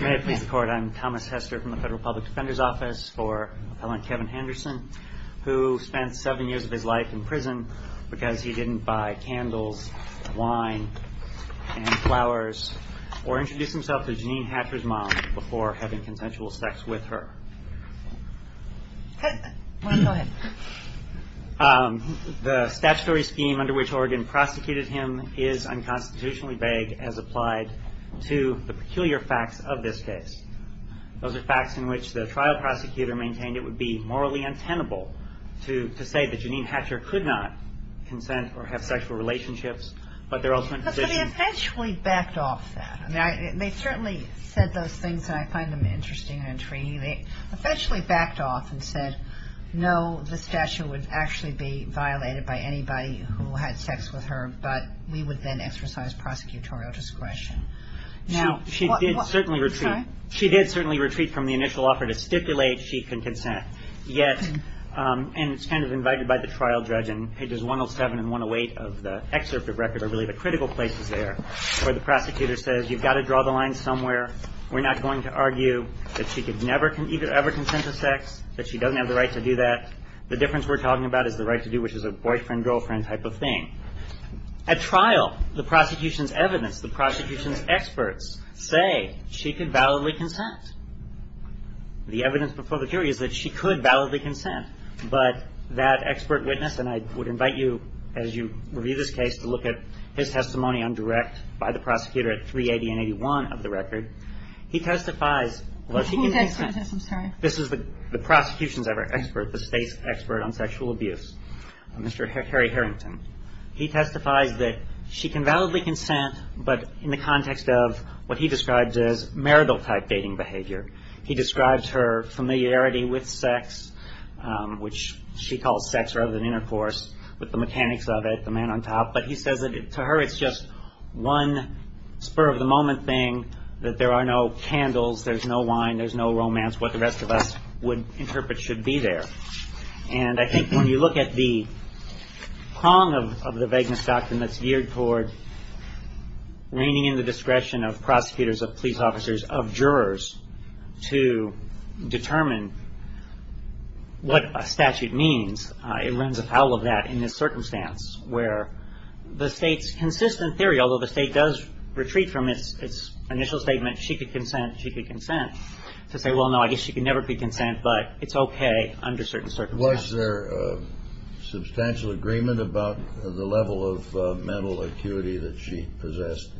May it please the court, I'm Thomas Hester from the Federal Public Defender's Office for Appellant Kevin Henderson, who spent seven years of his life in prison because he didn't buy candles, wine, and flowers, or introduce himself to Jean Hatcher's mom before having consensual sex with her. The statutory scheme under which Oregon prosecuted him is unconstitutionally vague as applied to the peculiar facts of this case. Those are facts in which the trial prosecutor maintained it would be morally untenable to say that Jean Hatcher could not consent or have sexual relationships but their ultimate position... But they eventually backed off that. They certainly said those things, and I find them interesting and intriguing. They eventually backed off and said, no, the statute would actually be violated by anybody who had sex with her, but we would then use prosecutorial discretion. She did certainly retreat from the initial offer to stipulate she can consent. Yet, and it's kind of invited by the trial judge in pages 107 and 108 of the excerpt of record are really the critical places there where the prosecutor says, you've got to draw the line somewhere. We're not going to argue that she could never ever consent to sex, that she doesn't have the right to do that. The difference we're talking about is the right to do which is a boyfriend-girlfriend type of thing. At trial, the prosecution's evidence, the prosecution's experts, say she could validly consent. The evidence before the jury is that she could validly consent, but that expert witness, and I would invite you as you review this case to look at his testimony on direct by the prosecutor at 380 and 81 of the record. He testifies... This is the prosecution's expert, the State's expert on sexual abuse, Mr. Harry Harrington. He testifies that she can validly consent, but in the context of what he describes as marital type dating behavior. He describes her familiarity with sex, which she calls sex rather than intercourse, with the mechanics of it, the man on top, but he says that to her it's just one spur of the moment thing, that there are no candles, there's no wine, there's no romance, what the rest of us would interpret should be there. And I think when you look at the prong of the vagueness doctrine that's geared toward reigning in the discretion of prosecutors, of police officers, of jurors, to determine what a statute means, it runs afoul of that in this circumstance where the State's consistent theory, although the State does retreat from its initial statement, she could consent, she could consent, to say, well, no, I guess she could never consent, but it's okay under certain circumstances. Was there substantial agreement about the level of mental acuity that she possessed?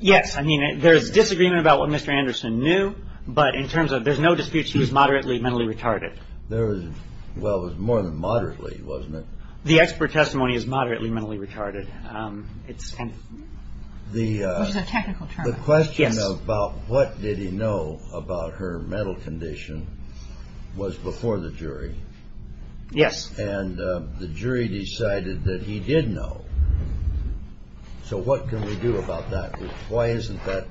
Yes. I mean, there's disagreement about what Mr. Anderson knew, but in terms of there's no dispute she's moderately mentally retarded. Well, it was more than moderately, wasn't it? The expert testimony is moderately mentally retarded. It's kind of... The question about what did he know about her mental condition was before the jury. Yes. And the jury decided that he did know. So what can we do about that? Why isn't that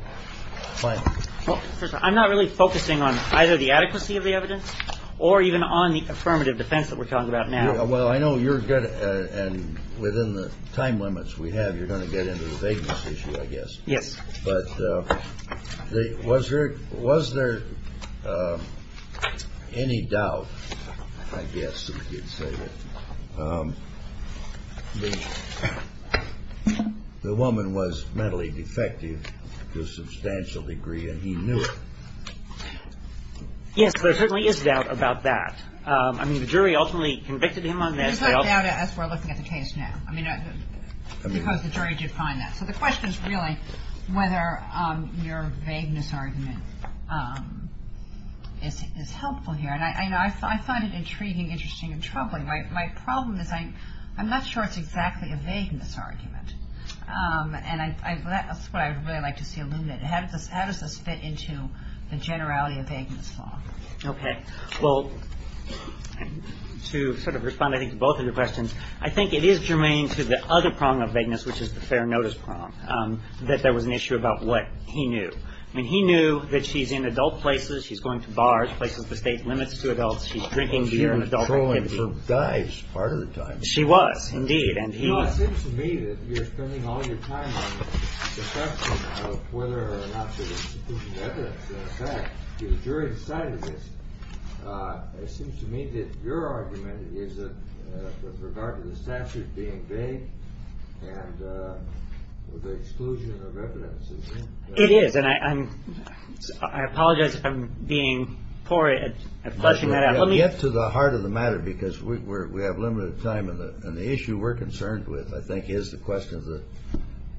final? Well, first of all, I'm not really focusing on either the adequacy of the evidence or even on the affirmative defense that we're talking about now. Well, I know you're going to, and within the time limits we have, you're going to get into the vagueness issue, I guess. Yes. But was there any doubt, I guess, that you'd say that the woman was mentally defective to a substantial degree and he knew it? Yes, there certainly is doubt about that. I mean, the jury ultimately convicted him on this. There's no doubt as we're looking at the case now. I mean, because the jury did find that. So the question is really whether your vagueness argument is helpful here. I find it intriguing, interesting, and troubling. My problem is I'm not sure it's exactly a vagueness argument. That's what I'd really like to see illuminated. How does this fit into the generality of vagueness law? Okay. Well, to sort of respond, I think, to both of your questions, I think it is germane to the other prong of vagueness, which is the fair notice prong, that there was an issue about what he knew. I mean, he knew that she's in adult places. She's going to bars, places with state limits to adults. She's drinking beer and adult activities. Well, she was trolling for guys part of the time. She was, indeed, and he was. Well, it seems to me that you're spending all your time on discussion of whether or not there's institutional evidence to the jury's side of this. It seems to me that your argument is that with regard to the statute being vague and with the exclusion of evidence. It is, and I apologize if I'm being poor at fleshing that out. Let me get to the heart of the matter because we have limited time, and the issue we're concerned with, I think, is the question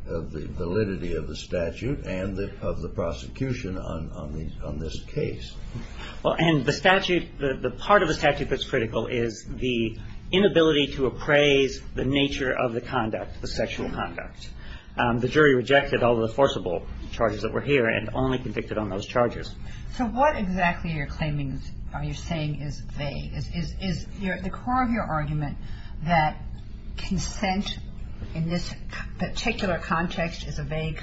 of the validity of the statute and of the prosecution on this case. Well, and the statute, the part of the statute that's critical is the inability to appraise the nature of the conduct, the sexual conduct. The jury rejected all the forcible charges that were here and only convicted on those charges. So what exactly are you saying is vague? Is the core of your argument that consent in this particular context is a vague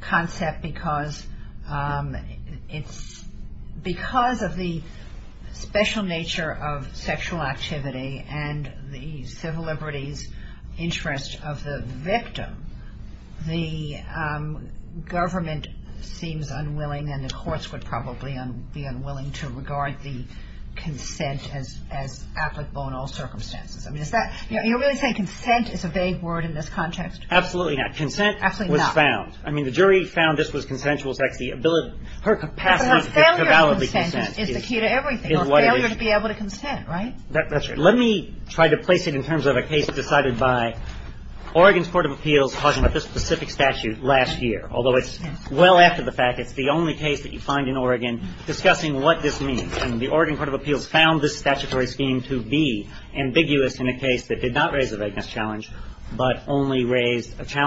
concept because of the special nature of sexual activity and the civil liberties interest of the victim, the government seems unwilling and the courts would probably be unwilling to regard the consent as applicable in all circumstances. You're really saying consent is a vague word in this context? Absolutely not. Consent was found. I mean, the jury found this was consensual sexual activity. Her capacity to validly consent is what it is. But a failure to consent is the key to everything. A failure to be able to consent, right? That's right. Let me try to place it in terms of a case decided by Oregon's Court of Appeals talking about this specific statute last year, although it's well after the fact. It's the only case that you find in Oregon discussing what this means. And the Oregon Court of Appeals found this statutory scheme to be a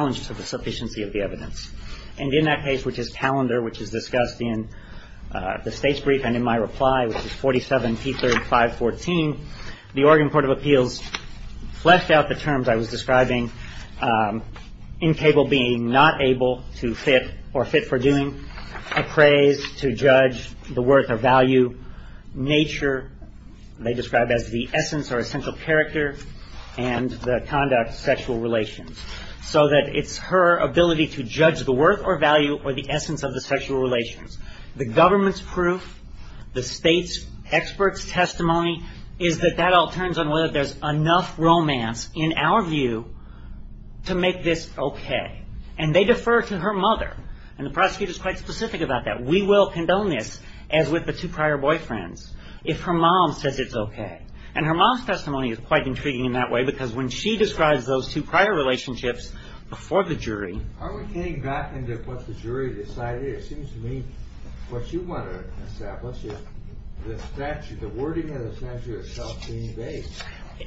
challenge to the sufficiency of the evidence. And in that case, which is Talander, which is discussed in the state's brief and in my reply, which is 47p3 514, the Oregon Court of Appeals fleshed out the terms I was describing, incable being not able to fit or fit for doing, appraised to judge the worth or value, nature they described as the essence or essential character, and the conduct of sexual relations. So that it's her ability to judge the worth or value or the essence of the sexual relations. The government's proof, the state's expert's testimony, is that that all turns on whether there's enough romance, in our view, to make this okay. And they defer to her mother. And the prosecutor's quite specific about that. We will condone this, as with the two prior boyfriends, if her mom says it's okay. And her mom's testimony is quite intriguing in that way. Because when she describes those two prior relationships before the jury. Are we getting back into what the jury decided? It seems to me what you want to establish is the statute, the wording of the statute itself being vague.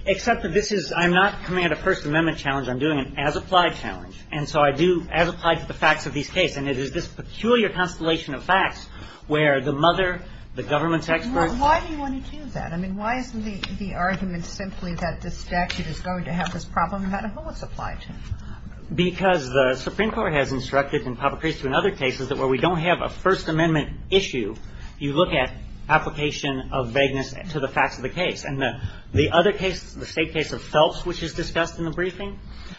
Except that this is, I'm not coming at a First Amendment challenge. I'm doing an as-applied challenge. And so I do as-applied to the facts of these cases. And it is this peculiar constellation of facts where the mother, the government's expert Why do you want to do that? I mean, why isn't the argument simply that the statute is going to have this problem? How do bullets apply to it? Because the Supreme Court has instructed and propagated to in other cases that where we don't have a First Amendment issue, you look at application of vagueness to the facts of the case. And the other case, the State case of Phelps, which is discussed in the briefing,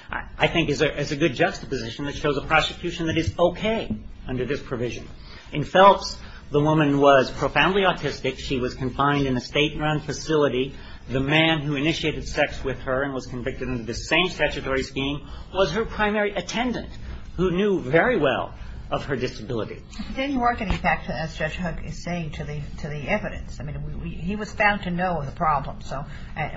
I think is a good juxtaposition that shows a prosecution that is okay under this provision. In Phelps, the woman was profoundly autistic. She was confined in a state-run facility. The man who initiated sex with her and was convicted under the same statutory scheme was her primary attendant, who knew very well of her disability. But then you are getting back to, as Judge Huck is saying, to the evidence. I mean, he was found to know the problem. So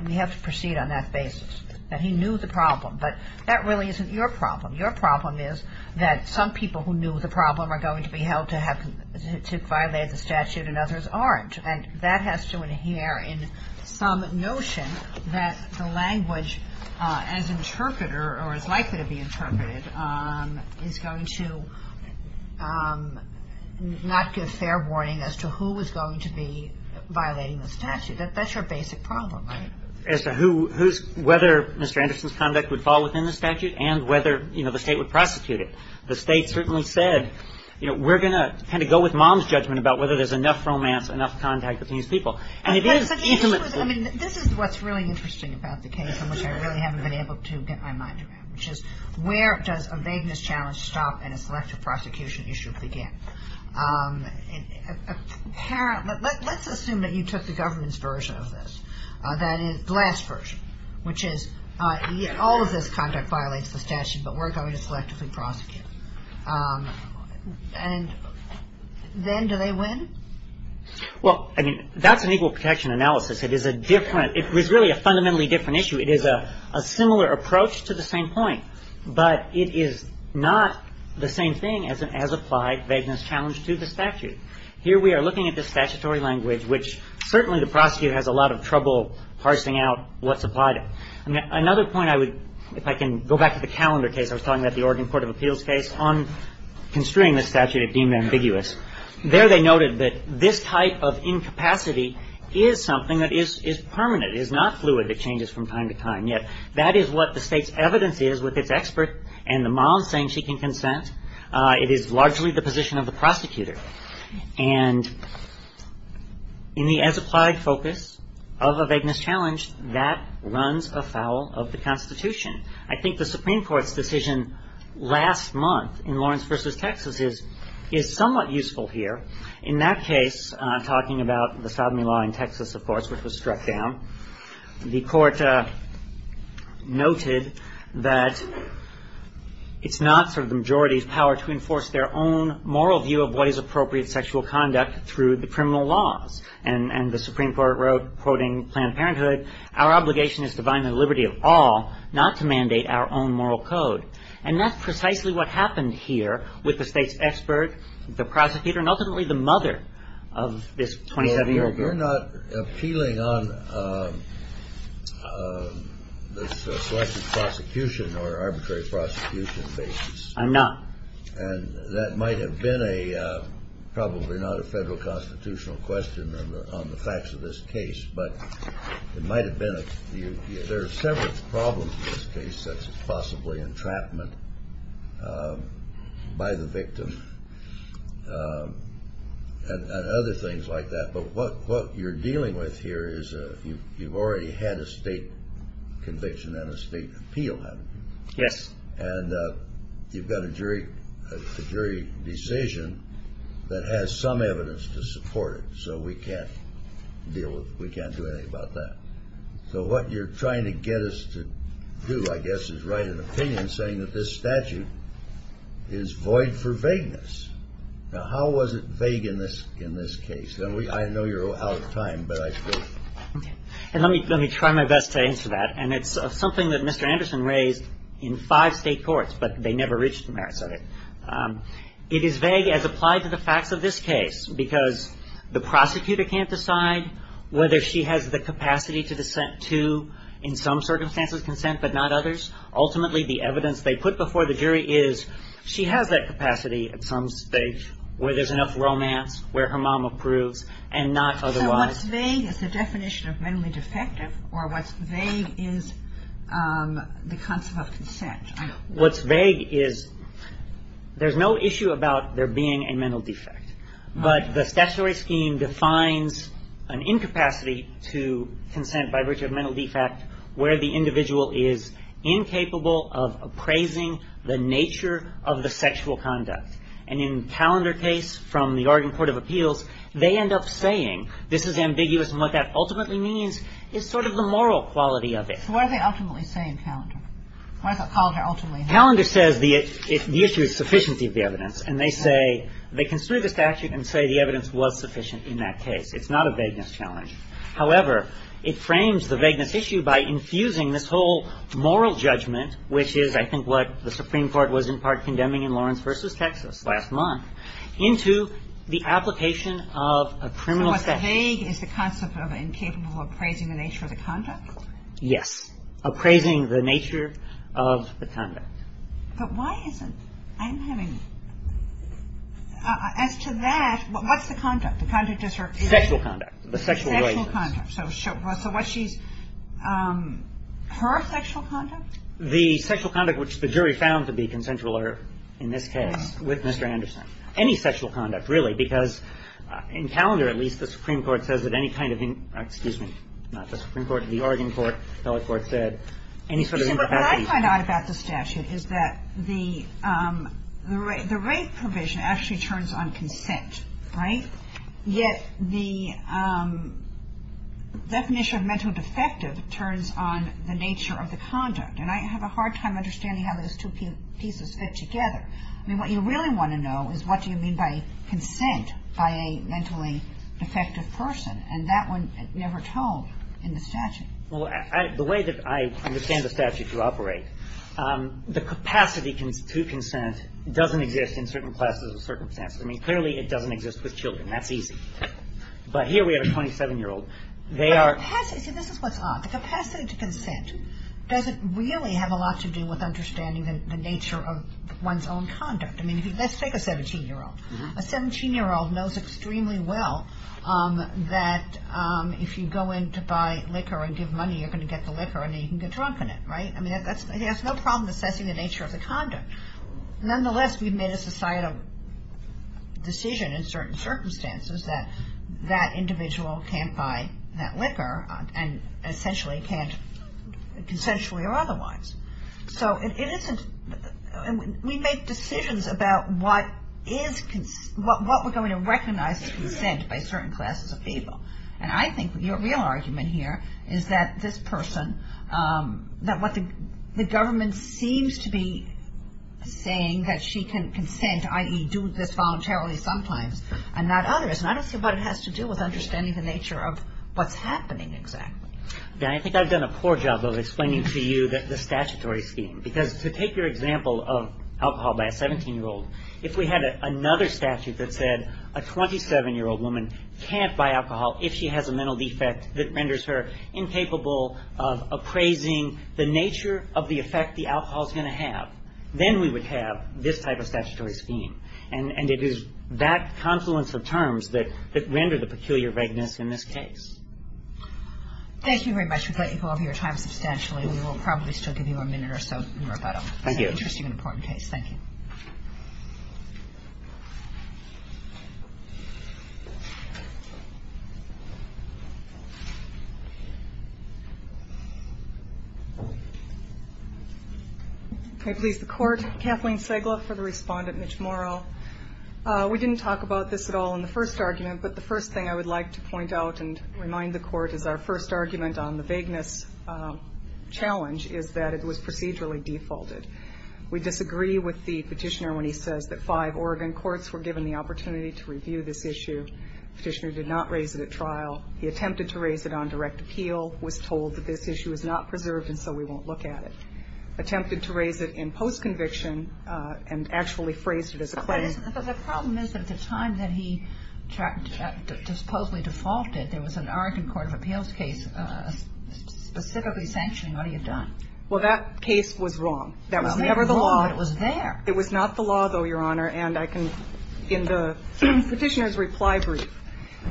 we have to proceed on that basis, that he knew the problem. But that really isn't your problem. Your problem is that some people who knew the problem are going to be held to have violated the statute and others aren't. And that has to adhere in some notion that the language as interpreter or as likely to be interpreted is going to not give fair warning as to who is going to be violating the statute. That's your basic problem, right? As to who's – whether Mr. Anderson's conduct would fall within the statute and whether, you know, the State would prosecute it. The State certainly said, you know, we're going to kind of go with Mom's judgment about whether there's enough romance, enough contact between these people. And it is intimately – But the issue is – I mean, this is what's really interesting about the case, and which I really haven't been able to get my mind around, which is where does a vagueness challenge stop and a selective prosecution issue begin? Apparently – let's assume that you took the government's version of this, that is, the last version, which is all of this conduct violates the statute, but we're going to selectively prosecute. And then do they win? Well, I mean, that's an equal protection analysis. It is a different – it's really a fundamentally different issue. It is a similar approach to the same point, but it is not the same thing as an as-applied vagueness challenge to the statute. Here we are looking at this statutory language, which certainly the prosecutor has a lot of trouble parsing out what's applied. Another point I would – if I can go back to the calendar case I was talking about, the Oregon Court of Appeals case, on construing the statute, it deemed ambiguous. There they noted that this type of incapacity is something that is permanent, is not fluid. It changes from time to time. Yet that is what the State's evidence is with its expert and the mom saying she can consent. It is largely the position of the prosecutor. And in the as-applied focus of a vagueness challenge, that runs afoul of the Constitution. I think the Supreme Court's decision last month in Lawrence v. Texas is somewhat useful here. In that case, talking about the sodomy law in Texas, of course, which was struck down, the Court noted that it's not sort of the majority's power to enforce their own moral view of what is appropriate sexual conduct through the criminal laws. And the Supreme Court wrote, quoting Planned Parenthood, our obligation is to bind the liberty of all, not to mandate our own moral code. And that's precisely what happened here with the State's expert, the prosecutor, and ultimately the mother of this 27-year-old girl. You're not appealing on this selective prosecution or arbitrary prosecution basis. I'm not. And that might have been a, probably not a federal constitutional question on the facts of this case, but it might have been. There are several problems in this case, such as possibly entrapment by the you've already had a state conviction and a state appeal, haven't you? Yes. And you've got a jury decision that has some evidence to support it. So we can't deal with, we can't do anything about that. So what you're trying to get us to do, I guess, is write an opinion saying that this statute is void for vagueness. Now, how was it vague in this case? And I know you're out of time, but I suppose. And let me try my best to answer that. And it's something that Mr. Anderson raised in five state courts, but they never reached the merits of it. It is vague as applied to the facts of this case, because the prosecutor can't decide whether she has the capacity to dissent to, in some circumstances, consent, but not others. Ultimately, the evidence they put before the jury is she has that capacity at some stage where there's enough romance, where her mom approves, and not otherwise. So what's vague is the definition of mentally defective, or what's vague is the concept of consent. What's vague is there's no issue about there being a mental defect. But the statutory scheme defines an incapacity to consent by virtue of mental defect where the individual is incapable of appraising the nature of the sexual conduct. And in Callender's case from the Oregon Court of Appeals, they end up saying this is ambiguous, and what that ultimately means is sort of the moral quality of it. So what do they ultimately say in Callender? What does Callender ultimately say? Callender says the issue is sufficiency of the evidence. And they say they construe the statute and say the evidence was sufficient in that case. It's not a vagueness challenge. However, it frames the vagueness issue by infusing this whole moral judgment, which is, I think, what the Supreme Court was in part condemning in Lawrence v. Texas last month, into the application of a criminal statute. So what's vague is the concept of incapable of appraising the nature of the conduct? Yes. Appraising the nature of the conduct. But why isn't – I'm having – as to that, what's the conduct? The conduct is her – Sexual conduct. The sexual relations. Sexual conduct. So what she's – her sexual conduct? The sexual conduct which the jury found to be consensual or, in this case, with Mr. Anderson. Any sexual conduct, really, because in Callender, at least, the Supreme Court says that any kind of – excuse me, not the Supreme Court, the Oregon court, the federal court said, any sort of incapacity. But what I find out about the statute is that the – the rape provision actually turns on consent, right? Yet the definition of mental defective turns on the nature of the conduct. And I have a hard time understanding how those two pieces fit together. I mean, what you really want to know is what do you mean by consent by a mentally defective person? And that one never told in the statute. Well, I – the way that I understand the statute to operate, the capacity to consent doesn't exist in certain classes or circumstances. I mean, clearly, it doesn't exist with children. That's easy. But here we have a 27-year-old. They are – But the capacity – see, this is what's odd. The capacity to consent doesn't really have a lot to do with understanding the nature of one's own conduct. I mean, let's take a 17-year-old. A 17-year-old knows extremely well that if you go in to buy liquor and give money, you're going to get the liquor and then you can get drunk in it, right? I mean, that's – he has no problem assessing the nature of the conduct. Nonetheless, we've made a societal decision in certain circumstances that that individual can't buy that liquor and essentially can't consensually or otherwise. So it isn't – we make decisions about what is – what we're going to recognize as consent by certain classes of people. And I think your real argument here is that this person, that what the government seems to be saying, that she can consent, i.e., do this voluntarily sometimes and not others. And I don't see what it has to do with understanding the nature of what's happening exactly. I think I've done a poor job of explaining to you the statutory scheme. Because to take your example of alcohol by a 17-year-old, if we had another statute that said a 27-year-old woman can't buy alcohol if she has a mental defect that renders her incapable of appraising the nature of the effect the alcohol is going to have, then we would have this type of statutory scheme. And it is that confluence of terms that render the peculiar vagueness in this case. Thank you very much. We've let you go over your time substantially. We will probably still give you a minute or so in rebuttal. Thank you. It's an interesting and important case. Thank you. May it please the Court. Kathleen Segla for the Respondent, Mitch Morrell. We didn't talk about this at all in the first argument, but the first thing I would like to point out and remind the Court is our first argument on the vagueness challenge is that it was procedurally defaulted. We disagree with the Petitioner when he says that five Oregon courts were given the opportunity to review this issue. The Petitioner did not raise it at trial. He attempted to raise it on direct appeal, was told that this issue is not preserved and so we won't look at it. Attempted to raise it in post-conviction and actually phrased it as a claim. But the problem is that at the time that he supposedly defaulted, there was an Oregon court of appeals case specifically sanctioning what he had done. Well, that case was wrong. That was never the law. It was there. It was not the law, though, Your Honor. And I can, in the Petitioner's reply brief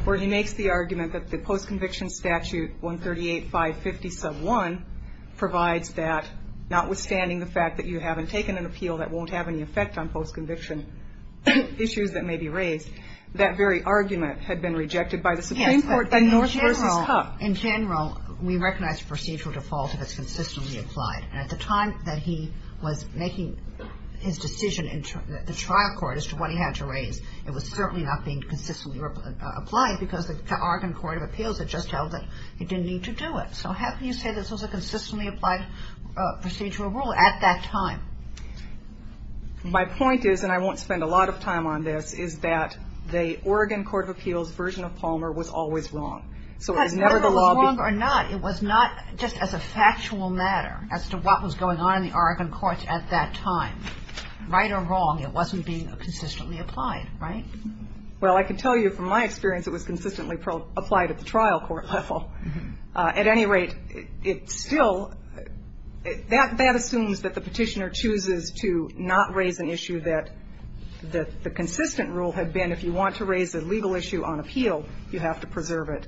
where he makes the argument that the post-conviction statute, 138, 550, sub 1, provides that notwithstanding the fact that you haven't taken an appeal that won't have any effect on post-conviction issues that may be raised, that very argument had been rejected by the Supreme Court. Yes, but in general, in general, we recognize procedural default if it's consistently applied. At the time that he was making his decision in the trial court as to what he had to raise, it was certainly not being consistently applied because the Oregon court of appeals had just held that he didn't need to do it. So how can you say this was a consistently applied procedural rule at that time? My point is, and I won't spend a lot of time on this, is that the Oregon court of appeals version of Palmer was always wrong. So it was never the law. Whether it was wrong or not, it was not just as a factual matter. As to what was going on in the Oregon courts at that time, right or wrong, it wasn't being consistently applied. Right? Well, I can tell you from my experience it was consistently applied at the trial court level. At any rate, it still, that assumes that the Petitioner chooses to not raise an issue that the consistent rule had been if you want to raise a legal issue on appeal, you have to preserve it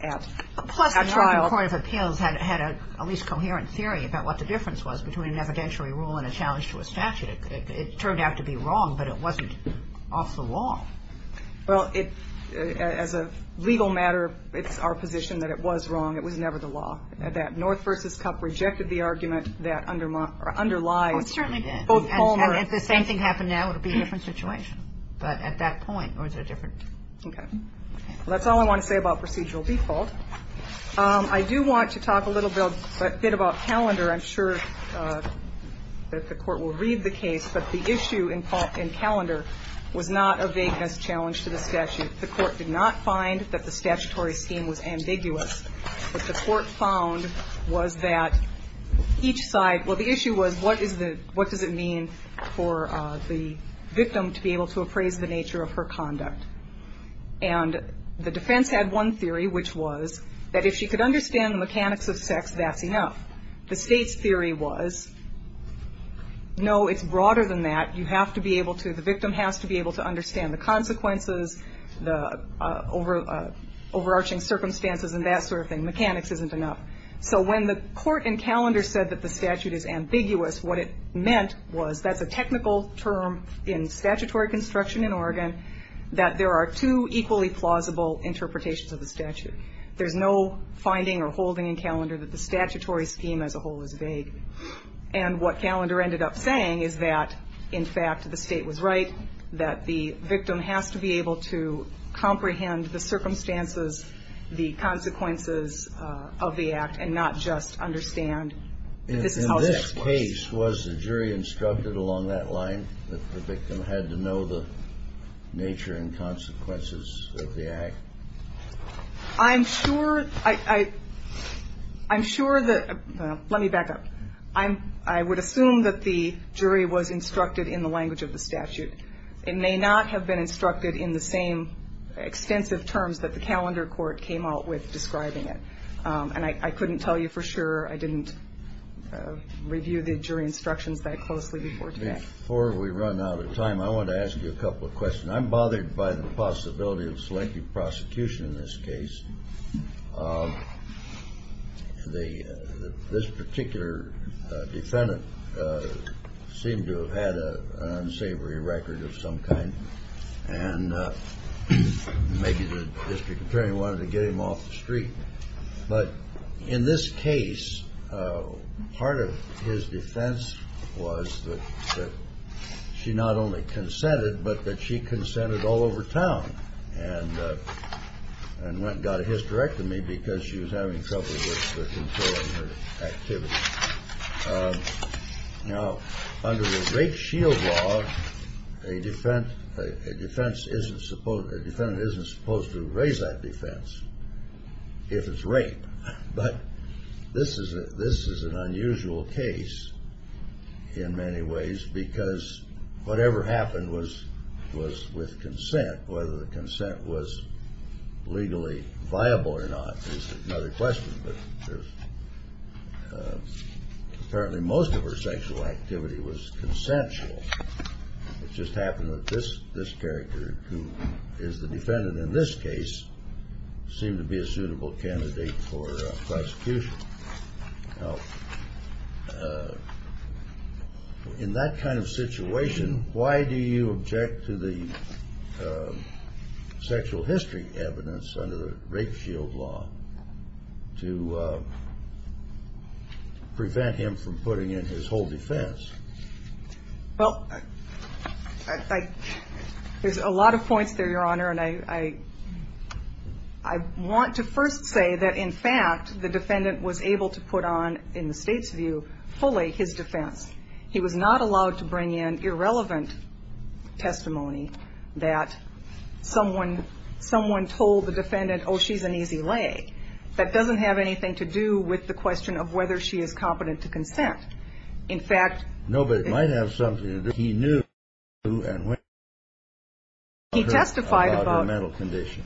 at trial. Plus the Oregon court of appeals had a least coherent theory about what the difference was between an evidentiary rule and a challenge to a statute. It turned out to be wrong, but it wasn't off the law. Well, as a legal matter, it's our position that it was wrong. It was never the law. That North v. Cup rejected the argument that underlies both Palmer. If the same thing happened now, it would be a different situation. But at that point, it was a different. Okay. Well, that's all I want to say about procedural default. I do want to talk a little bit about calendar. I'm sure that the Court will read the case, but the issue in calendar was not a vagueness challenge to the statute. The Court did not find that the statutory scheme was ambiguous. What the Court found was that each side, well, the issue was what is the, what does it mean for the victim to be able to appraise the nature of her conduct? And the defense had one theory, which was that if she could understand the mechanics of sex, that's enough. The State's theory was, no, it's broader than that. You have to be able to, the victim has to be able to understand the consequences, the overarching circumstances, and that sort of thing. Mechanics isn't enough. So when the Court in calendar said that the statute is ambiguous, what it meant was that's a technical term in statutory construction in Oregon, that there are two equally plausible interpretations of the statute. There's no finding or holding in calendar that the statutory scheme as a whole is vague. And what calendar ended up saying is that, in fact, the State was right, that the victim has to be able to comprehend the circumstances, the consequences of the act, and not just understand this is how sex works. In that case, was the jury instructed along that line, that the victim had to know the nature and consequences of the act? I'm sure, I'm sure that, let me back up. I would assume that the jury was instructed in the language of the statute. It may not have been instructed in the same extensive terms that the calendar court came out with describing it. And I couldn't tell you for sure. I didn't review the jury instructions that closely before today. Before we run out of time, I want to ask you a couple of questions. I'm bothered by the possibility of selective prosecution in this case. This particular defendant seemed to have had an unsavory record of some kind, and maybe the district attorney wanted to get him off the street. But in this case, part of his defense was that she not only consented, but that she consented all over town and went and got a hysterectomy because she was having trouble with controlling her activity. Now, under the rape shield law, a defendant isn't supposed to raise that defense if it's rape. But this is an unusual case in many ways, because whatever happened was with consent. Whether the consent was legally viable or not is another question. But apparently most of her sexual activity was consensual. It just happened that this character, who is the defendant in this case, seemed to be a suitable candidate for prosecution. Now, in that kind of situation, why do you object to the sexual history evidence under the rape shield law to prevent him from putting in his whole defense? Well, there's a lot of points there, Your Honor, and I want to first say that, in fact, the defendant was able to put on, in the State's view, fully his defense. He was not allowed to bring in irrelevant testimony that someone told the defendant, oh, she's an easy lay. That doesn't have anything to do with the question of whether she is competent to consent. In fact, he testified about her mental condition.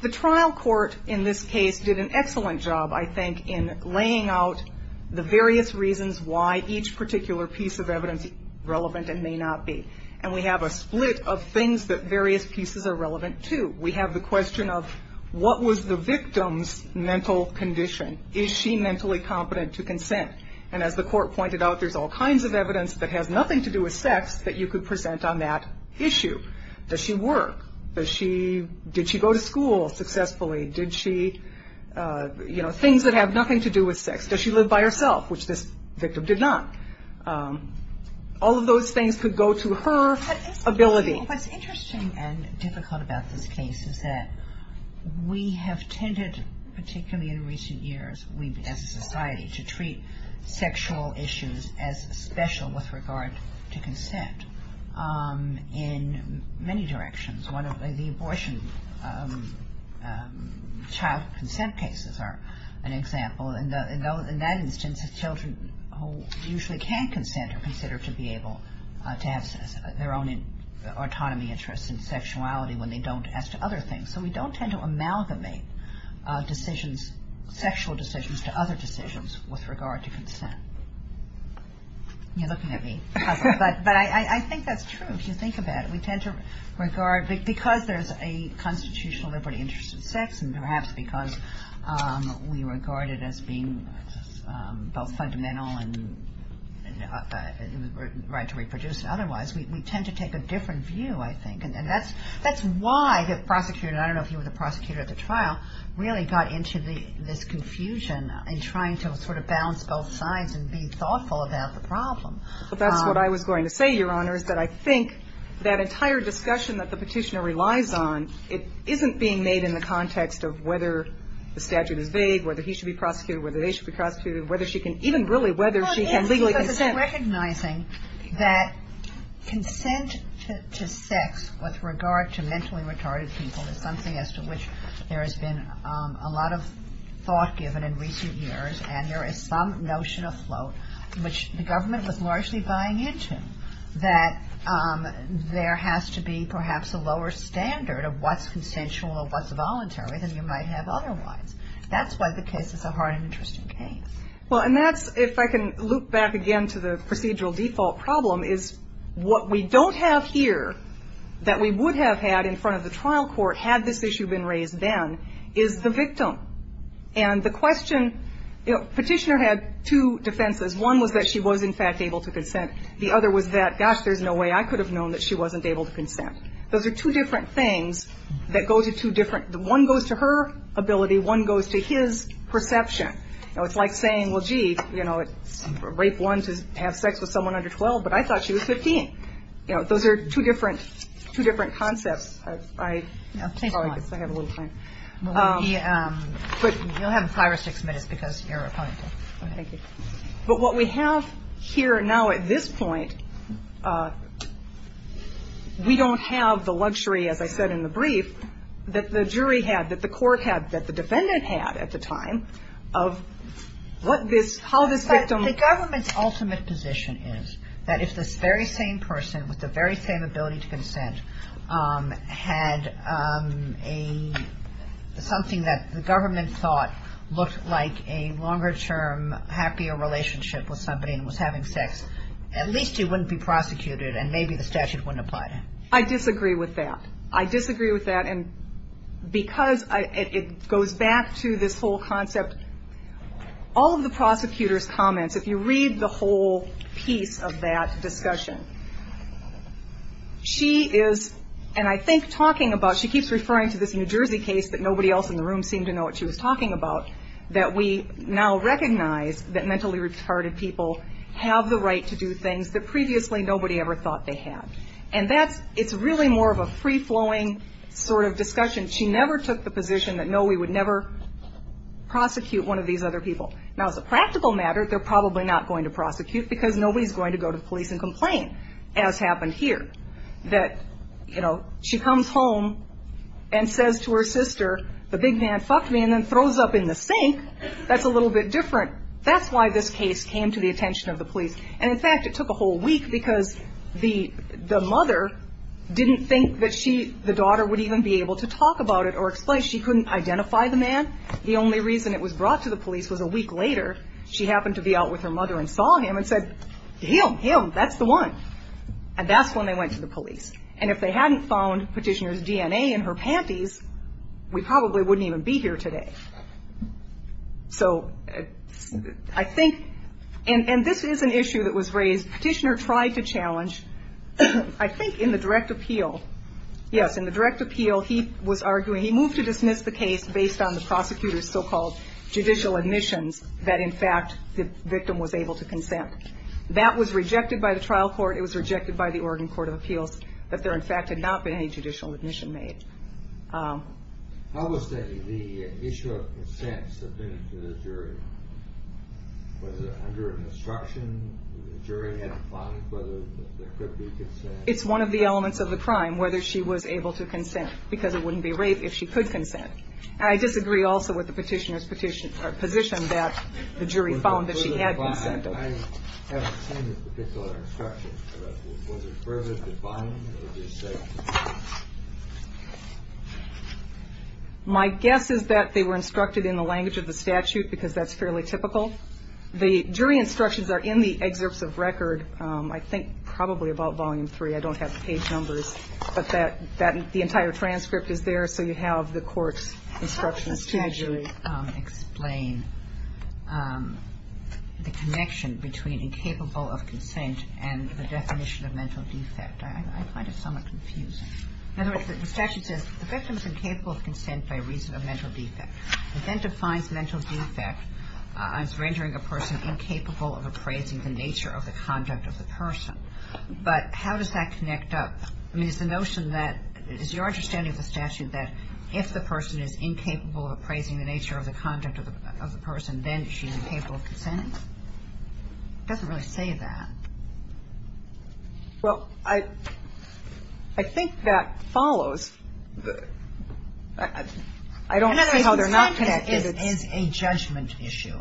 The trial court in this case did an excellent job, I think, in laying out the various reasons why each particular piece of evidence is relevant and may not be. And we have a split of things that various pieces are relevant to. We have the question of what was the victim's mental condition? Is she mentally competent to consent? And as the court pointed out, there's all kinds of evidence that has nothing to do with sex that you could present on that issue. Does she work? Did she go to school successfully? Did she, you know, things that have nothing to do with sex. Does she live by herself, which this victim did not? All of those things could go to her ability. What's interesting and difficult about this case is that we have tended, particularly in recent years as a society, to treat sexual issues as special with regard to consent in many directions. One of the abortion child consent cases are an example. In that instance, children who usually can consent are considered to be able to have their own autonomy, interests, and sexuality when they don't as to other things. So we don't tend to amalgamate decisions, sexual decisions, to other decisions with regard to consent. You're looking at me. But I think that's true if you think about it. We tend to regard, because there's a constitutional liberty interest in sex and perhaps because we regard it as being both fundamental and a right to reproduce otherwise, we tend to take a different view, I think. And that's why the prosecutor, I don't know if he was a prosecutor at the trial, really got into this confusion in trying to sort of balance both sides and be thoughtful about the problem. But that's what I was going to say, Your Honor, is that I think that entire discussion that the Petitioner relies on, it isn't being made in the context of whether the statute is vague, whether he should be prosecuted, whether they should be prosecuted, whether she can even really, whether she can legally consent. Well, yes, because it's recognizing that consent to sex with regard to mentally retarded people is something as to which there has been a lot of thought given in recent years and there is some notion afloat which the government was largely buying into, that there has to be perhaps a lower standard of what's consensual or what's voluntary than you might have otherwise. That's why the case is a hard and interesting case. Well, and that's, if I can loop back again to the procedural default problem, is what we don't have here that we would have had in front of the trial court had this issue been raised then is the victim. And the question, you know, Petitioner had two defenses. One was that she was, in fact, able to consent. The other was that, gosh, there's no way I could have known that she wasn't able to consent. Those are two different things that go to two different, one goes to her ability, one goes to his perception. It's like saying, well, gee, you know, rape one to have sex with someone under 12, but I thought she was 15. You know, those are two different concepts. I guess I have a little time. You'll have five or six minutes because you're a plaintiff. Thank you. But what we have here now at this point, we don't have the luxury, as I said in the brief, that the jury had, that the court had, that the defendant had at the time of what this, how this victim. The government's ultimate position is that if this very same person with the very same ability to consent had a, something that the government thought looked like a longer term happier relationship with somebody and was having sex, at least he wouldn't be prosecuted and maybe the statute wouldn't apply to him. I disagree with that. I disagree with that. And because it goes back to this whole concept, all of the prosecutor's comments, if you read the whole piece of that discussion, she is, and I think talking about, she keeps referring to this New Jersey case that nobody else in the room seemed to know what she was talking about, that we now recognize that mentally retarded people have the right to do things that previously nobody ever thought they had. And that's, it's really more of a free-flowing sort of discussion. She never took the position that, no, we would never prosecute one of these other people. Now, as a practical matter, they're probably not going to prosecute because nobody's going to go to the police and complain, as happened here, that, you know, she comes home and says to her sister, the big man fucked me and then throws up in the sink. That's a little bit different. That's why this case came to the attention of the police. And, in fact, it took a whole week because the mother didn't think that she, the daughter, would even be able to talk about it or explain. She couldn't identify the man. The only reason it was brought to the police was a week later, she happened to be out with her mother and saw him and said, him, him, that's the one. And that's when they went to the police. And if they hadn't found Petitioner's DNA in her panties, we probably wouldn't even be here today. So I think, and this is an issue that was raised. Petitioner tried to challenge, I think, in the direct appeal, yes, in the direct appeal, he was arguing, he moved to dismiss the case based on the prosecutor's so-called judicial admissions that, in fact, the victim was able to consent. That was rejected by the trial court. It was rejected by the Oregon Court of Appeals, that there, in fact, had not been any judicial admission made. How was the issue of consent subpoenaed to the jury? Was it under instruction? Did the jury have to find whether there could be consent? It's one of the elements of the crime, whether she was able to consent, because it wouldn't be rape if she could consent. And I disagree also with the Petitioner's position that the jury found that she had consent. I haven't seen this particular instruction. Was it further defined, or did you say? My guess is that they were instructed in the language of the statute, because that's fairly typical. The jury instructions are in the excerpts of record, I think probably about Volume 3. I don't have the page numbers. But the entire transcript is there, so you have the court's instructions, too. I don't know how to explain the connection between incapable of consent and the definition of mental defect. I find it somewhat confusing. In other words, the statute says the victim is incapable of consent by reason of mental defect. It then defines mental defect as rendering a person incapable of appraising the nature of the conduct of the person. But how does that connect up? I mean, it's the notion that it's your understanding of the statute that if the person is incapable of appraising the nature of the conduct of the person, then she's incapable of consent. It doesn't really say that. Well, I think that follows. I don't see how they're not connected. In other words, it's a judgment issue.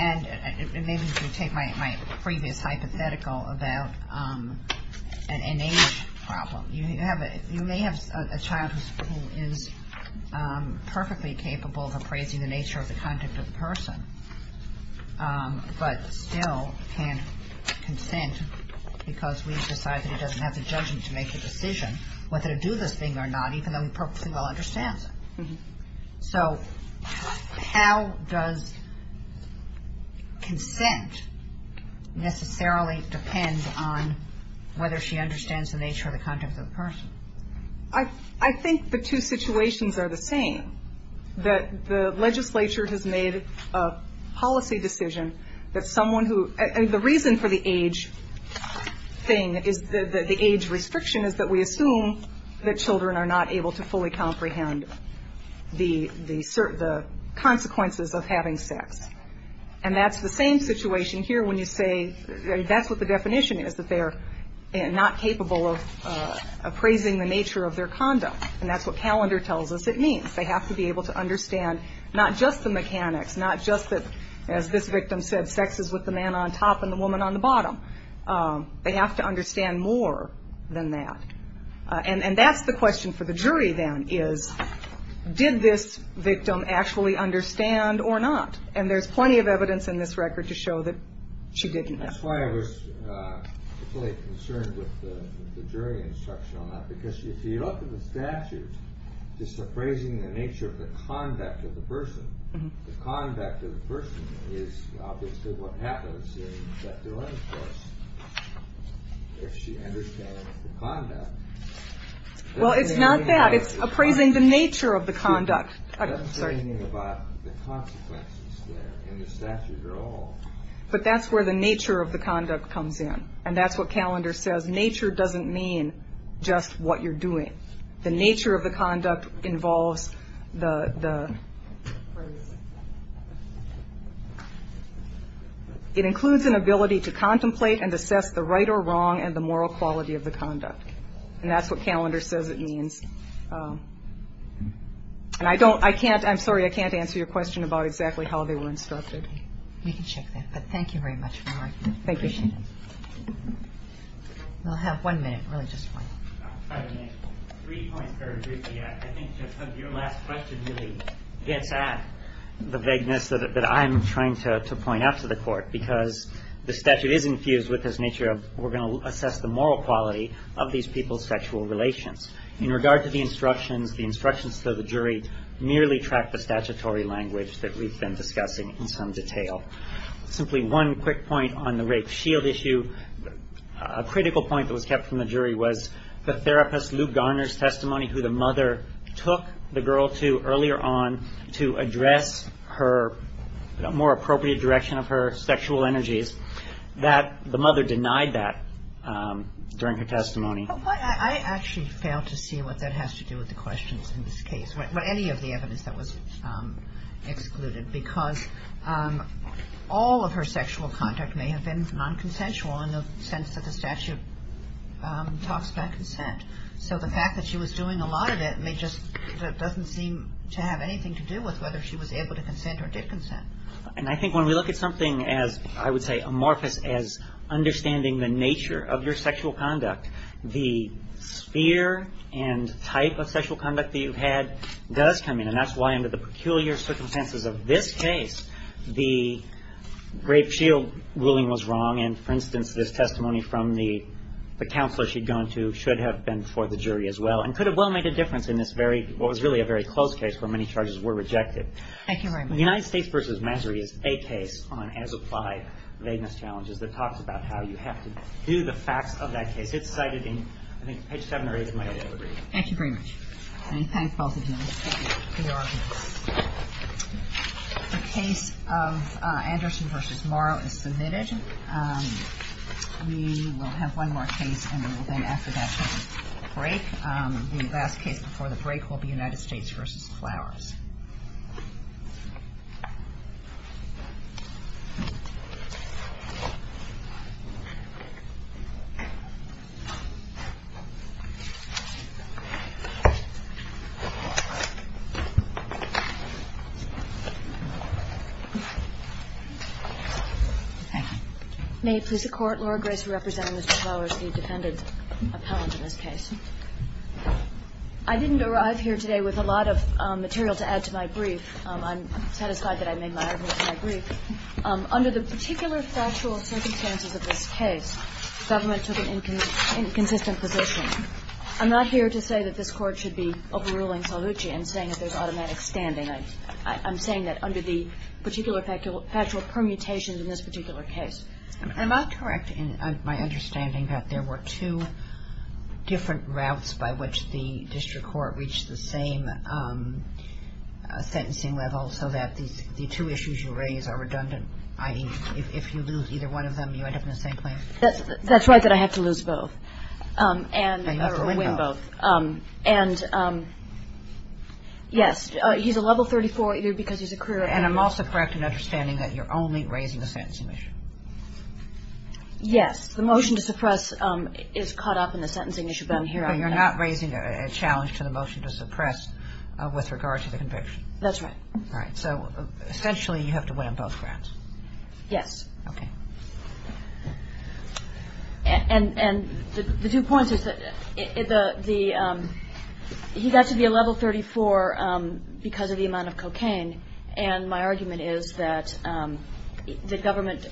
And maybe if you take my previous hypothetical about an innate problem. You may have a child who is perfectly capable of appraising the nature of the conduct of the person, but still can't consent because we've decided he doesn't have the judgment to make a decision whether to do this thing or not, even though he perfectly well understands it. So how does consent necessarily depend on whether she understands the nature of the conduct of the person? I think the two situations are the same, that the legislature has made a policy decision that someone who – and the reason for the age thing is – the age restriction is that we assume that children are not able to fully comprehend the consequences of having sex. And that's the same situation here when you say – that's what the definition is, that they're not capable of appraising the nature of their conduct. And that's what calendar tells us it means. They have to be able to understand not just the mechanics, not just that, as this victim said, sex is with the man on top and the woman on the bottom. They have to understand more than that. And that's the question for the jury then is, did this victim actually understand or not? And there's plenty of evidence in this record to show that she didn't. That's why I was really concerned with the jury instruction on that, because if you look at the statute just appraising the nature of the conduct of the person, the conduct of the person is obviously what happens in that delinquent case. If she understands the conduct – Well, it's not that. It's appraising the nature of the conduct. I'm sorry. Appraising about the consequences there in the statute at all. But that's where the nature of the conduct comes in. And that's what calendar says. Nature doesn't mean just what you're doing. The nature of the conduct involves the – it includes an ability to contemplate and assess the right or wrong and the moral quality of the conduct. And that's what calendar says it means. And I don't – I can't – I'm sorry. I can't answer your question about exactly how they were instructed. We can check that. But thank you very much for your argument. Thank you. I appreciate it. We'll have one minute, really, just one. I'll try to make three points very briefly. I think your last question really gets at the vagueness that I'm trying to point out to the Court, because the statute is infused with this nature of we're going to assess the moral quality of these people's sexual relations. In regard to the instructions, the instructions to the jury merely track the statutory language that we've been discussing in some detail. Simply one quick point on the rape shield issue. A critical point that was kept from the jury was the therapist, Lou Garner's testimony, who the mother took the girl to earlier on to address her more appropriate direction of her sexual energies, that the mother denied that during her testimony. I actually fail to see what that has to do with the questions in this case, or any of the evidence that was excluded, because all of her sexual conduct may have been non-consensual in the sense that the statute talks about consent. So the fact that she was doing a lot of it just doesn't seem to have anything to do with whether she was able to consent or did consent. And I think when we look at something as, I would say, amorphous as understanding the nature of your sexual conduct, the sphere and type of sexual conduct that you've had does come in. And that's why, under the peculiar circumstances of this case, the rape shield ruling was wrong. And, for instance, this testimony from the counselor she'd gone to should have been for the jury as well, and could have well made a difference in this very, what was really a very close case where many charges were rejected. Thank you very much. The United States v. Masaryk is a case on as-applied vagueness challenges that talks about how you have to do the facts of that case. It's cited in, I think, page 7 or 8, if my memory is correct. Thank you very much. And thank both of you. The case of Anderson v. Morrow is submitted. We will have one more case, and then after that we'll have a break. The last case before the break will be United States v. Flowers. Thank you. May it please the Court. Laura Grace representing Mr. Flowers, the defendant appellant in this case. I didn't arrive here today with a lot of material to add to my brief. I'm satisfied that I made my argument in my brief. Under the particular factual circumstances of this case, the government took an inconsistent position. I'm not here to say that this Court should be, and saying that there's automatic standing. I'm saying that under the particular factual permutations in this particular case. I'm not correct in my understanding that there were two different routes by which the district court reached the same sentencing level, so that the two issues you raise are redundant, i.e., if you lose either one of them, you end up in the same place. That's right, that I have to lose both. And win both. And, yes, he's a level 34 either because he's a career appellant. And I'm also correct in understanding that you're only raising the sentencing issue. Yes, the motion to suppress is caught up in the sentencing issue, but I'm here on that. But you're not raising a challenge to the motion to suppress with regard to the conviction. That's right. All right, so essentially you have to win on both grounds. Yes. Okay. And the two points is that the he got to be a level 34 because of the amount of cocaine, and my argument is that the government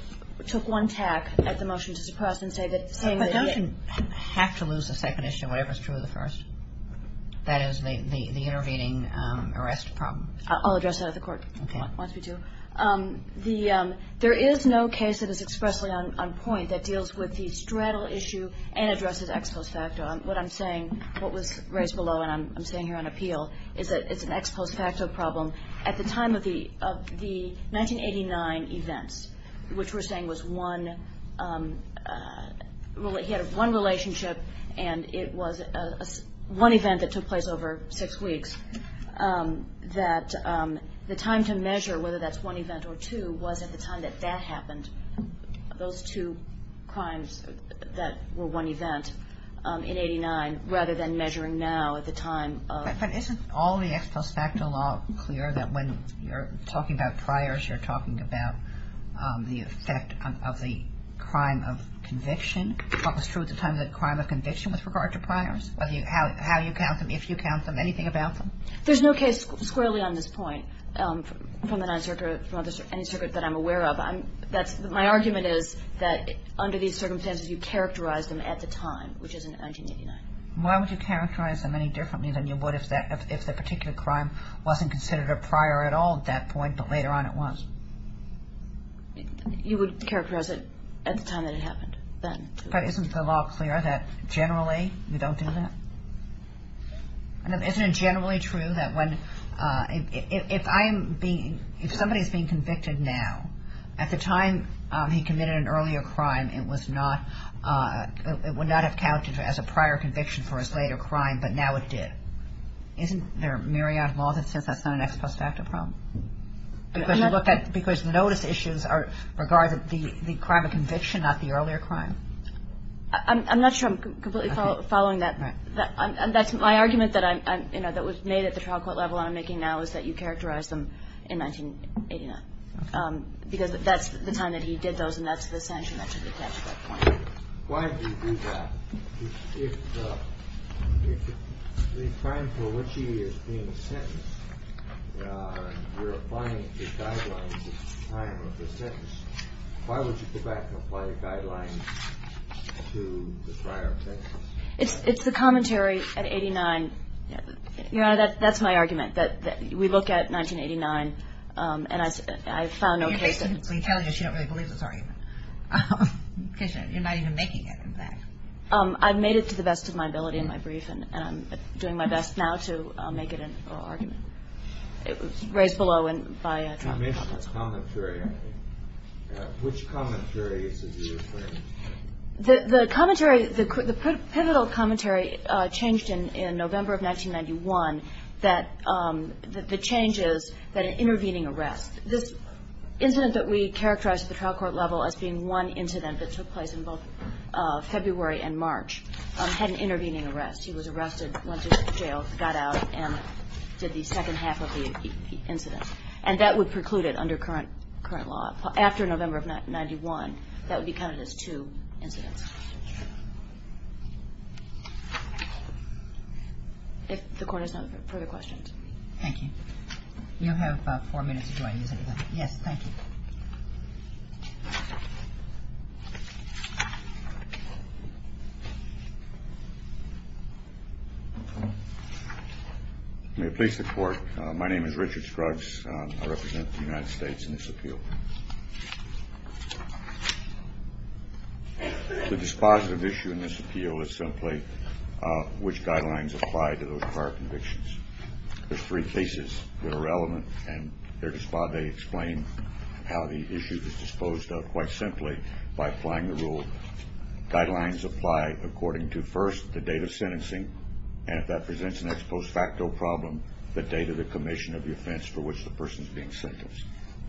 took one tack at the motion to suppress and say that saying that he I don't have to lose the second issue, whatever's true of the first. That is the intervening arrest problem. I'll address that at the court once we do. Okay. There is no case that is expressly on point that deals with the straddle issue and addresses ex post facto. What I'm saying, what was raised below, and I'm saying here on appeal, is that it's an ex post facto problem. At the time of the 1989 events, which we're saying was one, he had one relationship, and it was one event that took place over six weeks, that the time to measure whether that's one event or two was at the time that that happened, those two crimes that were one event in 89, rather than measuring now at the time of But isn't all the ex post facto law clear that when you're talking about priors, you're talking about the effect of the crime of conviction? What was true at the time of the crime of conviction with regard to priors? How you count them, if you count them, anything about them? There's no case squarely on this point from the Ninth Circuit, from any circuit that I'm aware of. My argument is that under these circumstances, you characterize them at the time, which is in 1989. Why would you characterize them any differently than you would if the particular crime wasn't considered a prior at all at that point, but later on it was? You would characterize it at the time that it happened, then. But isn't the law clear that generally you don't do that? Isn't it generally true that if somebody is being convicted now, at the time he committed an earlier crime, it would not have counted as a prior conviction for his later crime, but now it did? Isn't there a myriad of laws that says that's not an ex post facto problem? Because notice issues are regarded the crime of conviction, not the earlier crime. I'm not sure I'm completely following that. That's my argument that I'm, you know, that was made at the trial court level I'm making now is that you characterize them in 1989. Because that's the time that he did those, and that's the sanction that should be attached at that point. Why do you do that? If the crime for which he is being sentenced, we're applying the guidelines at the time of the sentence, why would you go back and apply the guidelines to the prior sentence? It's the commentary at 89. Your Honor, that's my argument, that we look at 1989, and I've found no case. So you're telling us you don't really believe this argument. You're not even making it, in fact. I've made it to the best of my ability in my brief, and I'm doing my best now to make it an oral argument. It was raised below by a commentator. That's commentary, I think. Which commentary is it you're referring to? The commentary, the pivotal commentary changed in November of 1991, that the change is that an intervening arrest. This incident that we characterize at the trial court level as being one incident that took place in both February and March had an intervening arrest. He was arrested, went to jail, got out, and did the second half of the incident. And that would preclude it under current law. After November of 1991, that would be counted as two incidents. If the Court has no further questions. Thank you. You have about four minutes before I use anything. Yes, thank you. May it please the Court. My name is Richard Scruggs. I represent the United States in this appeal. The dispositive issue in this appeal is simply which guidelines apply to those prior convictions. There are three cases that are relevant, and they explain how the issue is disposed of quite simply by applying the rule. Guidelines apply according to, first, the date of sentencing, and if that presents an ex post facto problem, the date of the commission of the offense for which the person is being sentenced.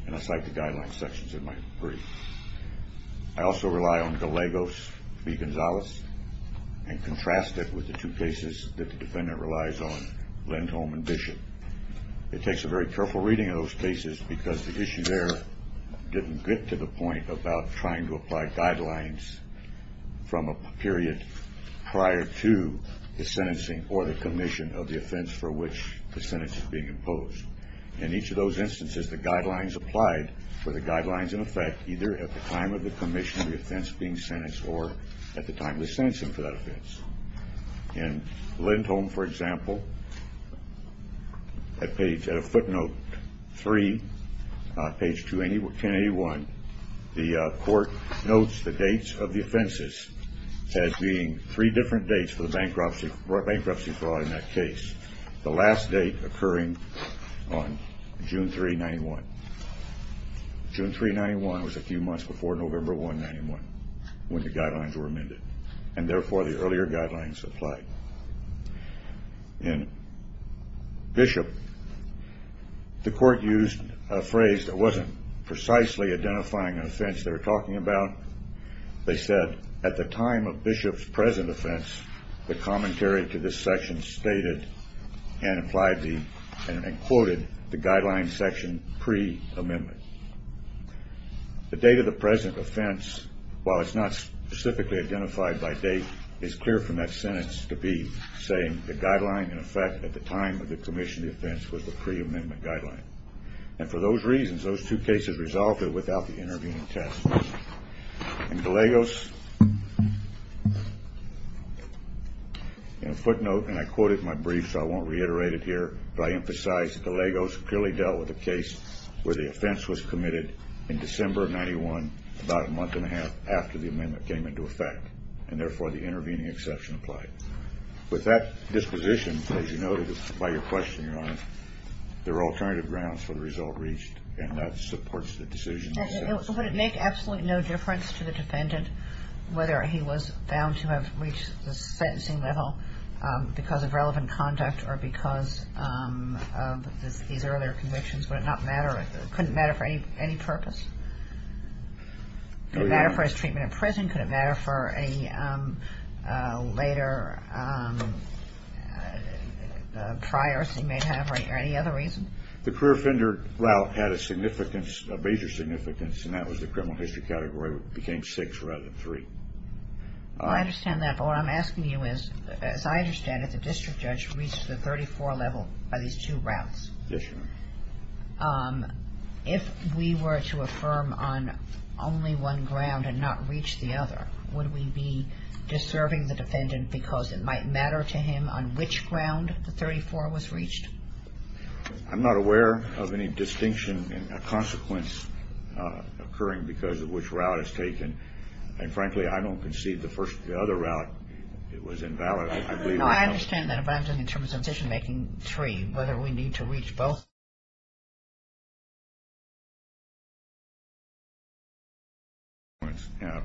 And I cite the guideline sections in my brief. I also rely on Gallegos v. Gonzalez and contrast it with the two cases that the defendant relies on, Lindholm and Bishop. It takes a very careful reading of those cases because the issue there didn't get to the point about trying to apply guidelines from a period prior to the sentencing or the commission of the offense for which the sentence is being imposed. In each of those instances, the guidelines applied were the guidelines in effect either at the time of the commission of the offense being sentenced or at the time of the sentencing for that offense. In Lindholm, for example, at footnote three, page 281, the court notes the dates of the offenses as being three different dates for the bankruptcy fraud in that case. The last date occurring on June 3, 1991. June 3, 1991 was a few months before November 1, 1991, when the guidelines were amended, and therefore the earlier guidelines applied. In Bishop, the court used a phrase that wasn't precisely identifying an offense they were talking about. They said, at the time of Bishop's present offense, the commentary to this section stated and quoted the guideline section pre-amendment. The date of the present offense, while it's not specifically identified by date, is clear from that sentence to be saying the guideline in effect at the time of the commission of the offense was the pre-amendment guideline. And for those reasons, those two cases resolved without the intervening testimony. In Gallegos, in a footnote, and I quoted my brief so I won't reiterate it here, but I emphasize that Gallegos clearly dealt with a case where the offense was committed in December of 1991, about a month and a half after the amendment came into effect, and therefore the intervening exception applied. There are alternative grounds for the result reached, and that supports the decision. Would it make absolutely no difference to the defendant whether he was found to have reached the sentencing level because of relevant conduct or because of these earlier convictions? Would it not matter? Could it matter for any purpose? Could it matter for his treatment in prison? Could it matter for any later priors he may have or any other reason? The career offender route had a significance, a major significance, and that was the criminal history category became six rather than three. I understand that, but what I'm asking you is, as I understand it, the district judge reached the 34 level by these two routes. Yes, Your Honor. If we were to affirm on only one ground and not reach the other, would we be deserving the defendant because it might matter to him on which ground the 34 was reached? I'm not aware of any distinction in a consequence occurring because of which route is taken, and, frankly, I don't concede the first or the other route. It was invalid. No, I understand that, but I'm talking in terms of decision-making, three, whether we need to reach both.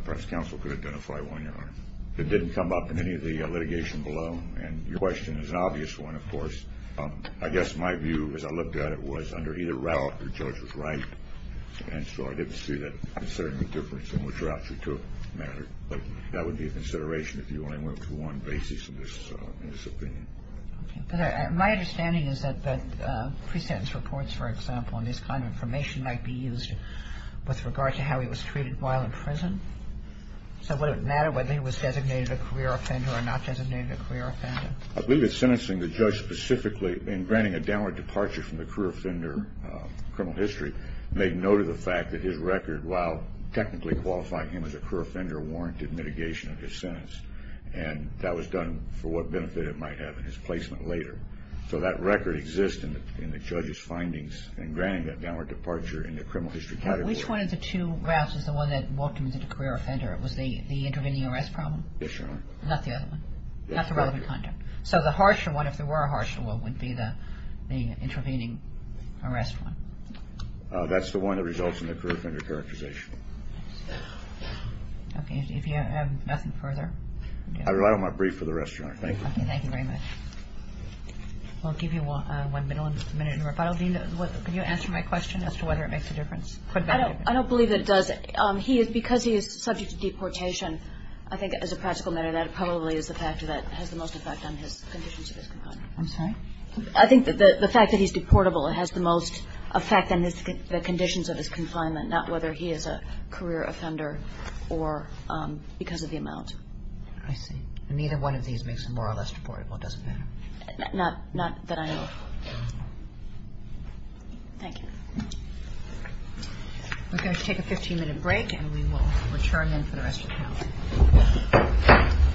Perhaps counsel could identify one, Your Honor. It didn't come up in any of the litigation below, and your question is an obvious one, of course. I guess my view, as I looked at it, was under either route the judge was right, and so I didn't see that there was certainly a difference in which route you took mattered. That would be a consideration if you only went to one basis in this opinion. Okay. But my understanding is that pre-sentence reports, for example, and this kind of information might be used with regard to how he was treated while in prison. So would it matter whether he was designated a career offender or not designated a career offender? I believe that sentencing the judge specifically in granting a downward departure from the career offender criminal history made note of the fact that his record, while technically qualifying him as a career offender, warranted mitigation of his sentence, and that was done for what benefit it might have in his placement later. So that record exists in the judge's findings in granting that downward departure in the criminal history category. Which one of the two routes was the one that walked him into the career offender? Was the intervening arrest problem? Yes, Your Honor. Not the other one? Not the relevant conduct. So the harsher one, if there were a harsher one, would be the intervening arrest one? That's the one that results in the career offender characterization. Okay. If you have nothing further? I rely on my brief for the rest, Your Honor. Thank you. Okay. Thank you very much. We'll give you one minute in rebuttal. Dean, can you answer my question as to whether it makes a difference? I don't believe that it does. Because he is subject to deportation, I think as a practical matter, that probably is the fact that it has the most effect on his conditions of his confinement. I'm sorry? I think the fact that he's deportable has the most effect on the conditions of his confinement, not whether he is a career offender or because of the amount. I see. And neither one of these makes him more or less deportable. It doesn't matter. Not that I know of. Okay. Thank you. We're going to take a 15-minute break, and we will return in for the rest of the panel. Thank you.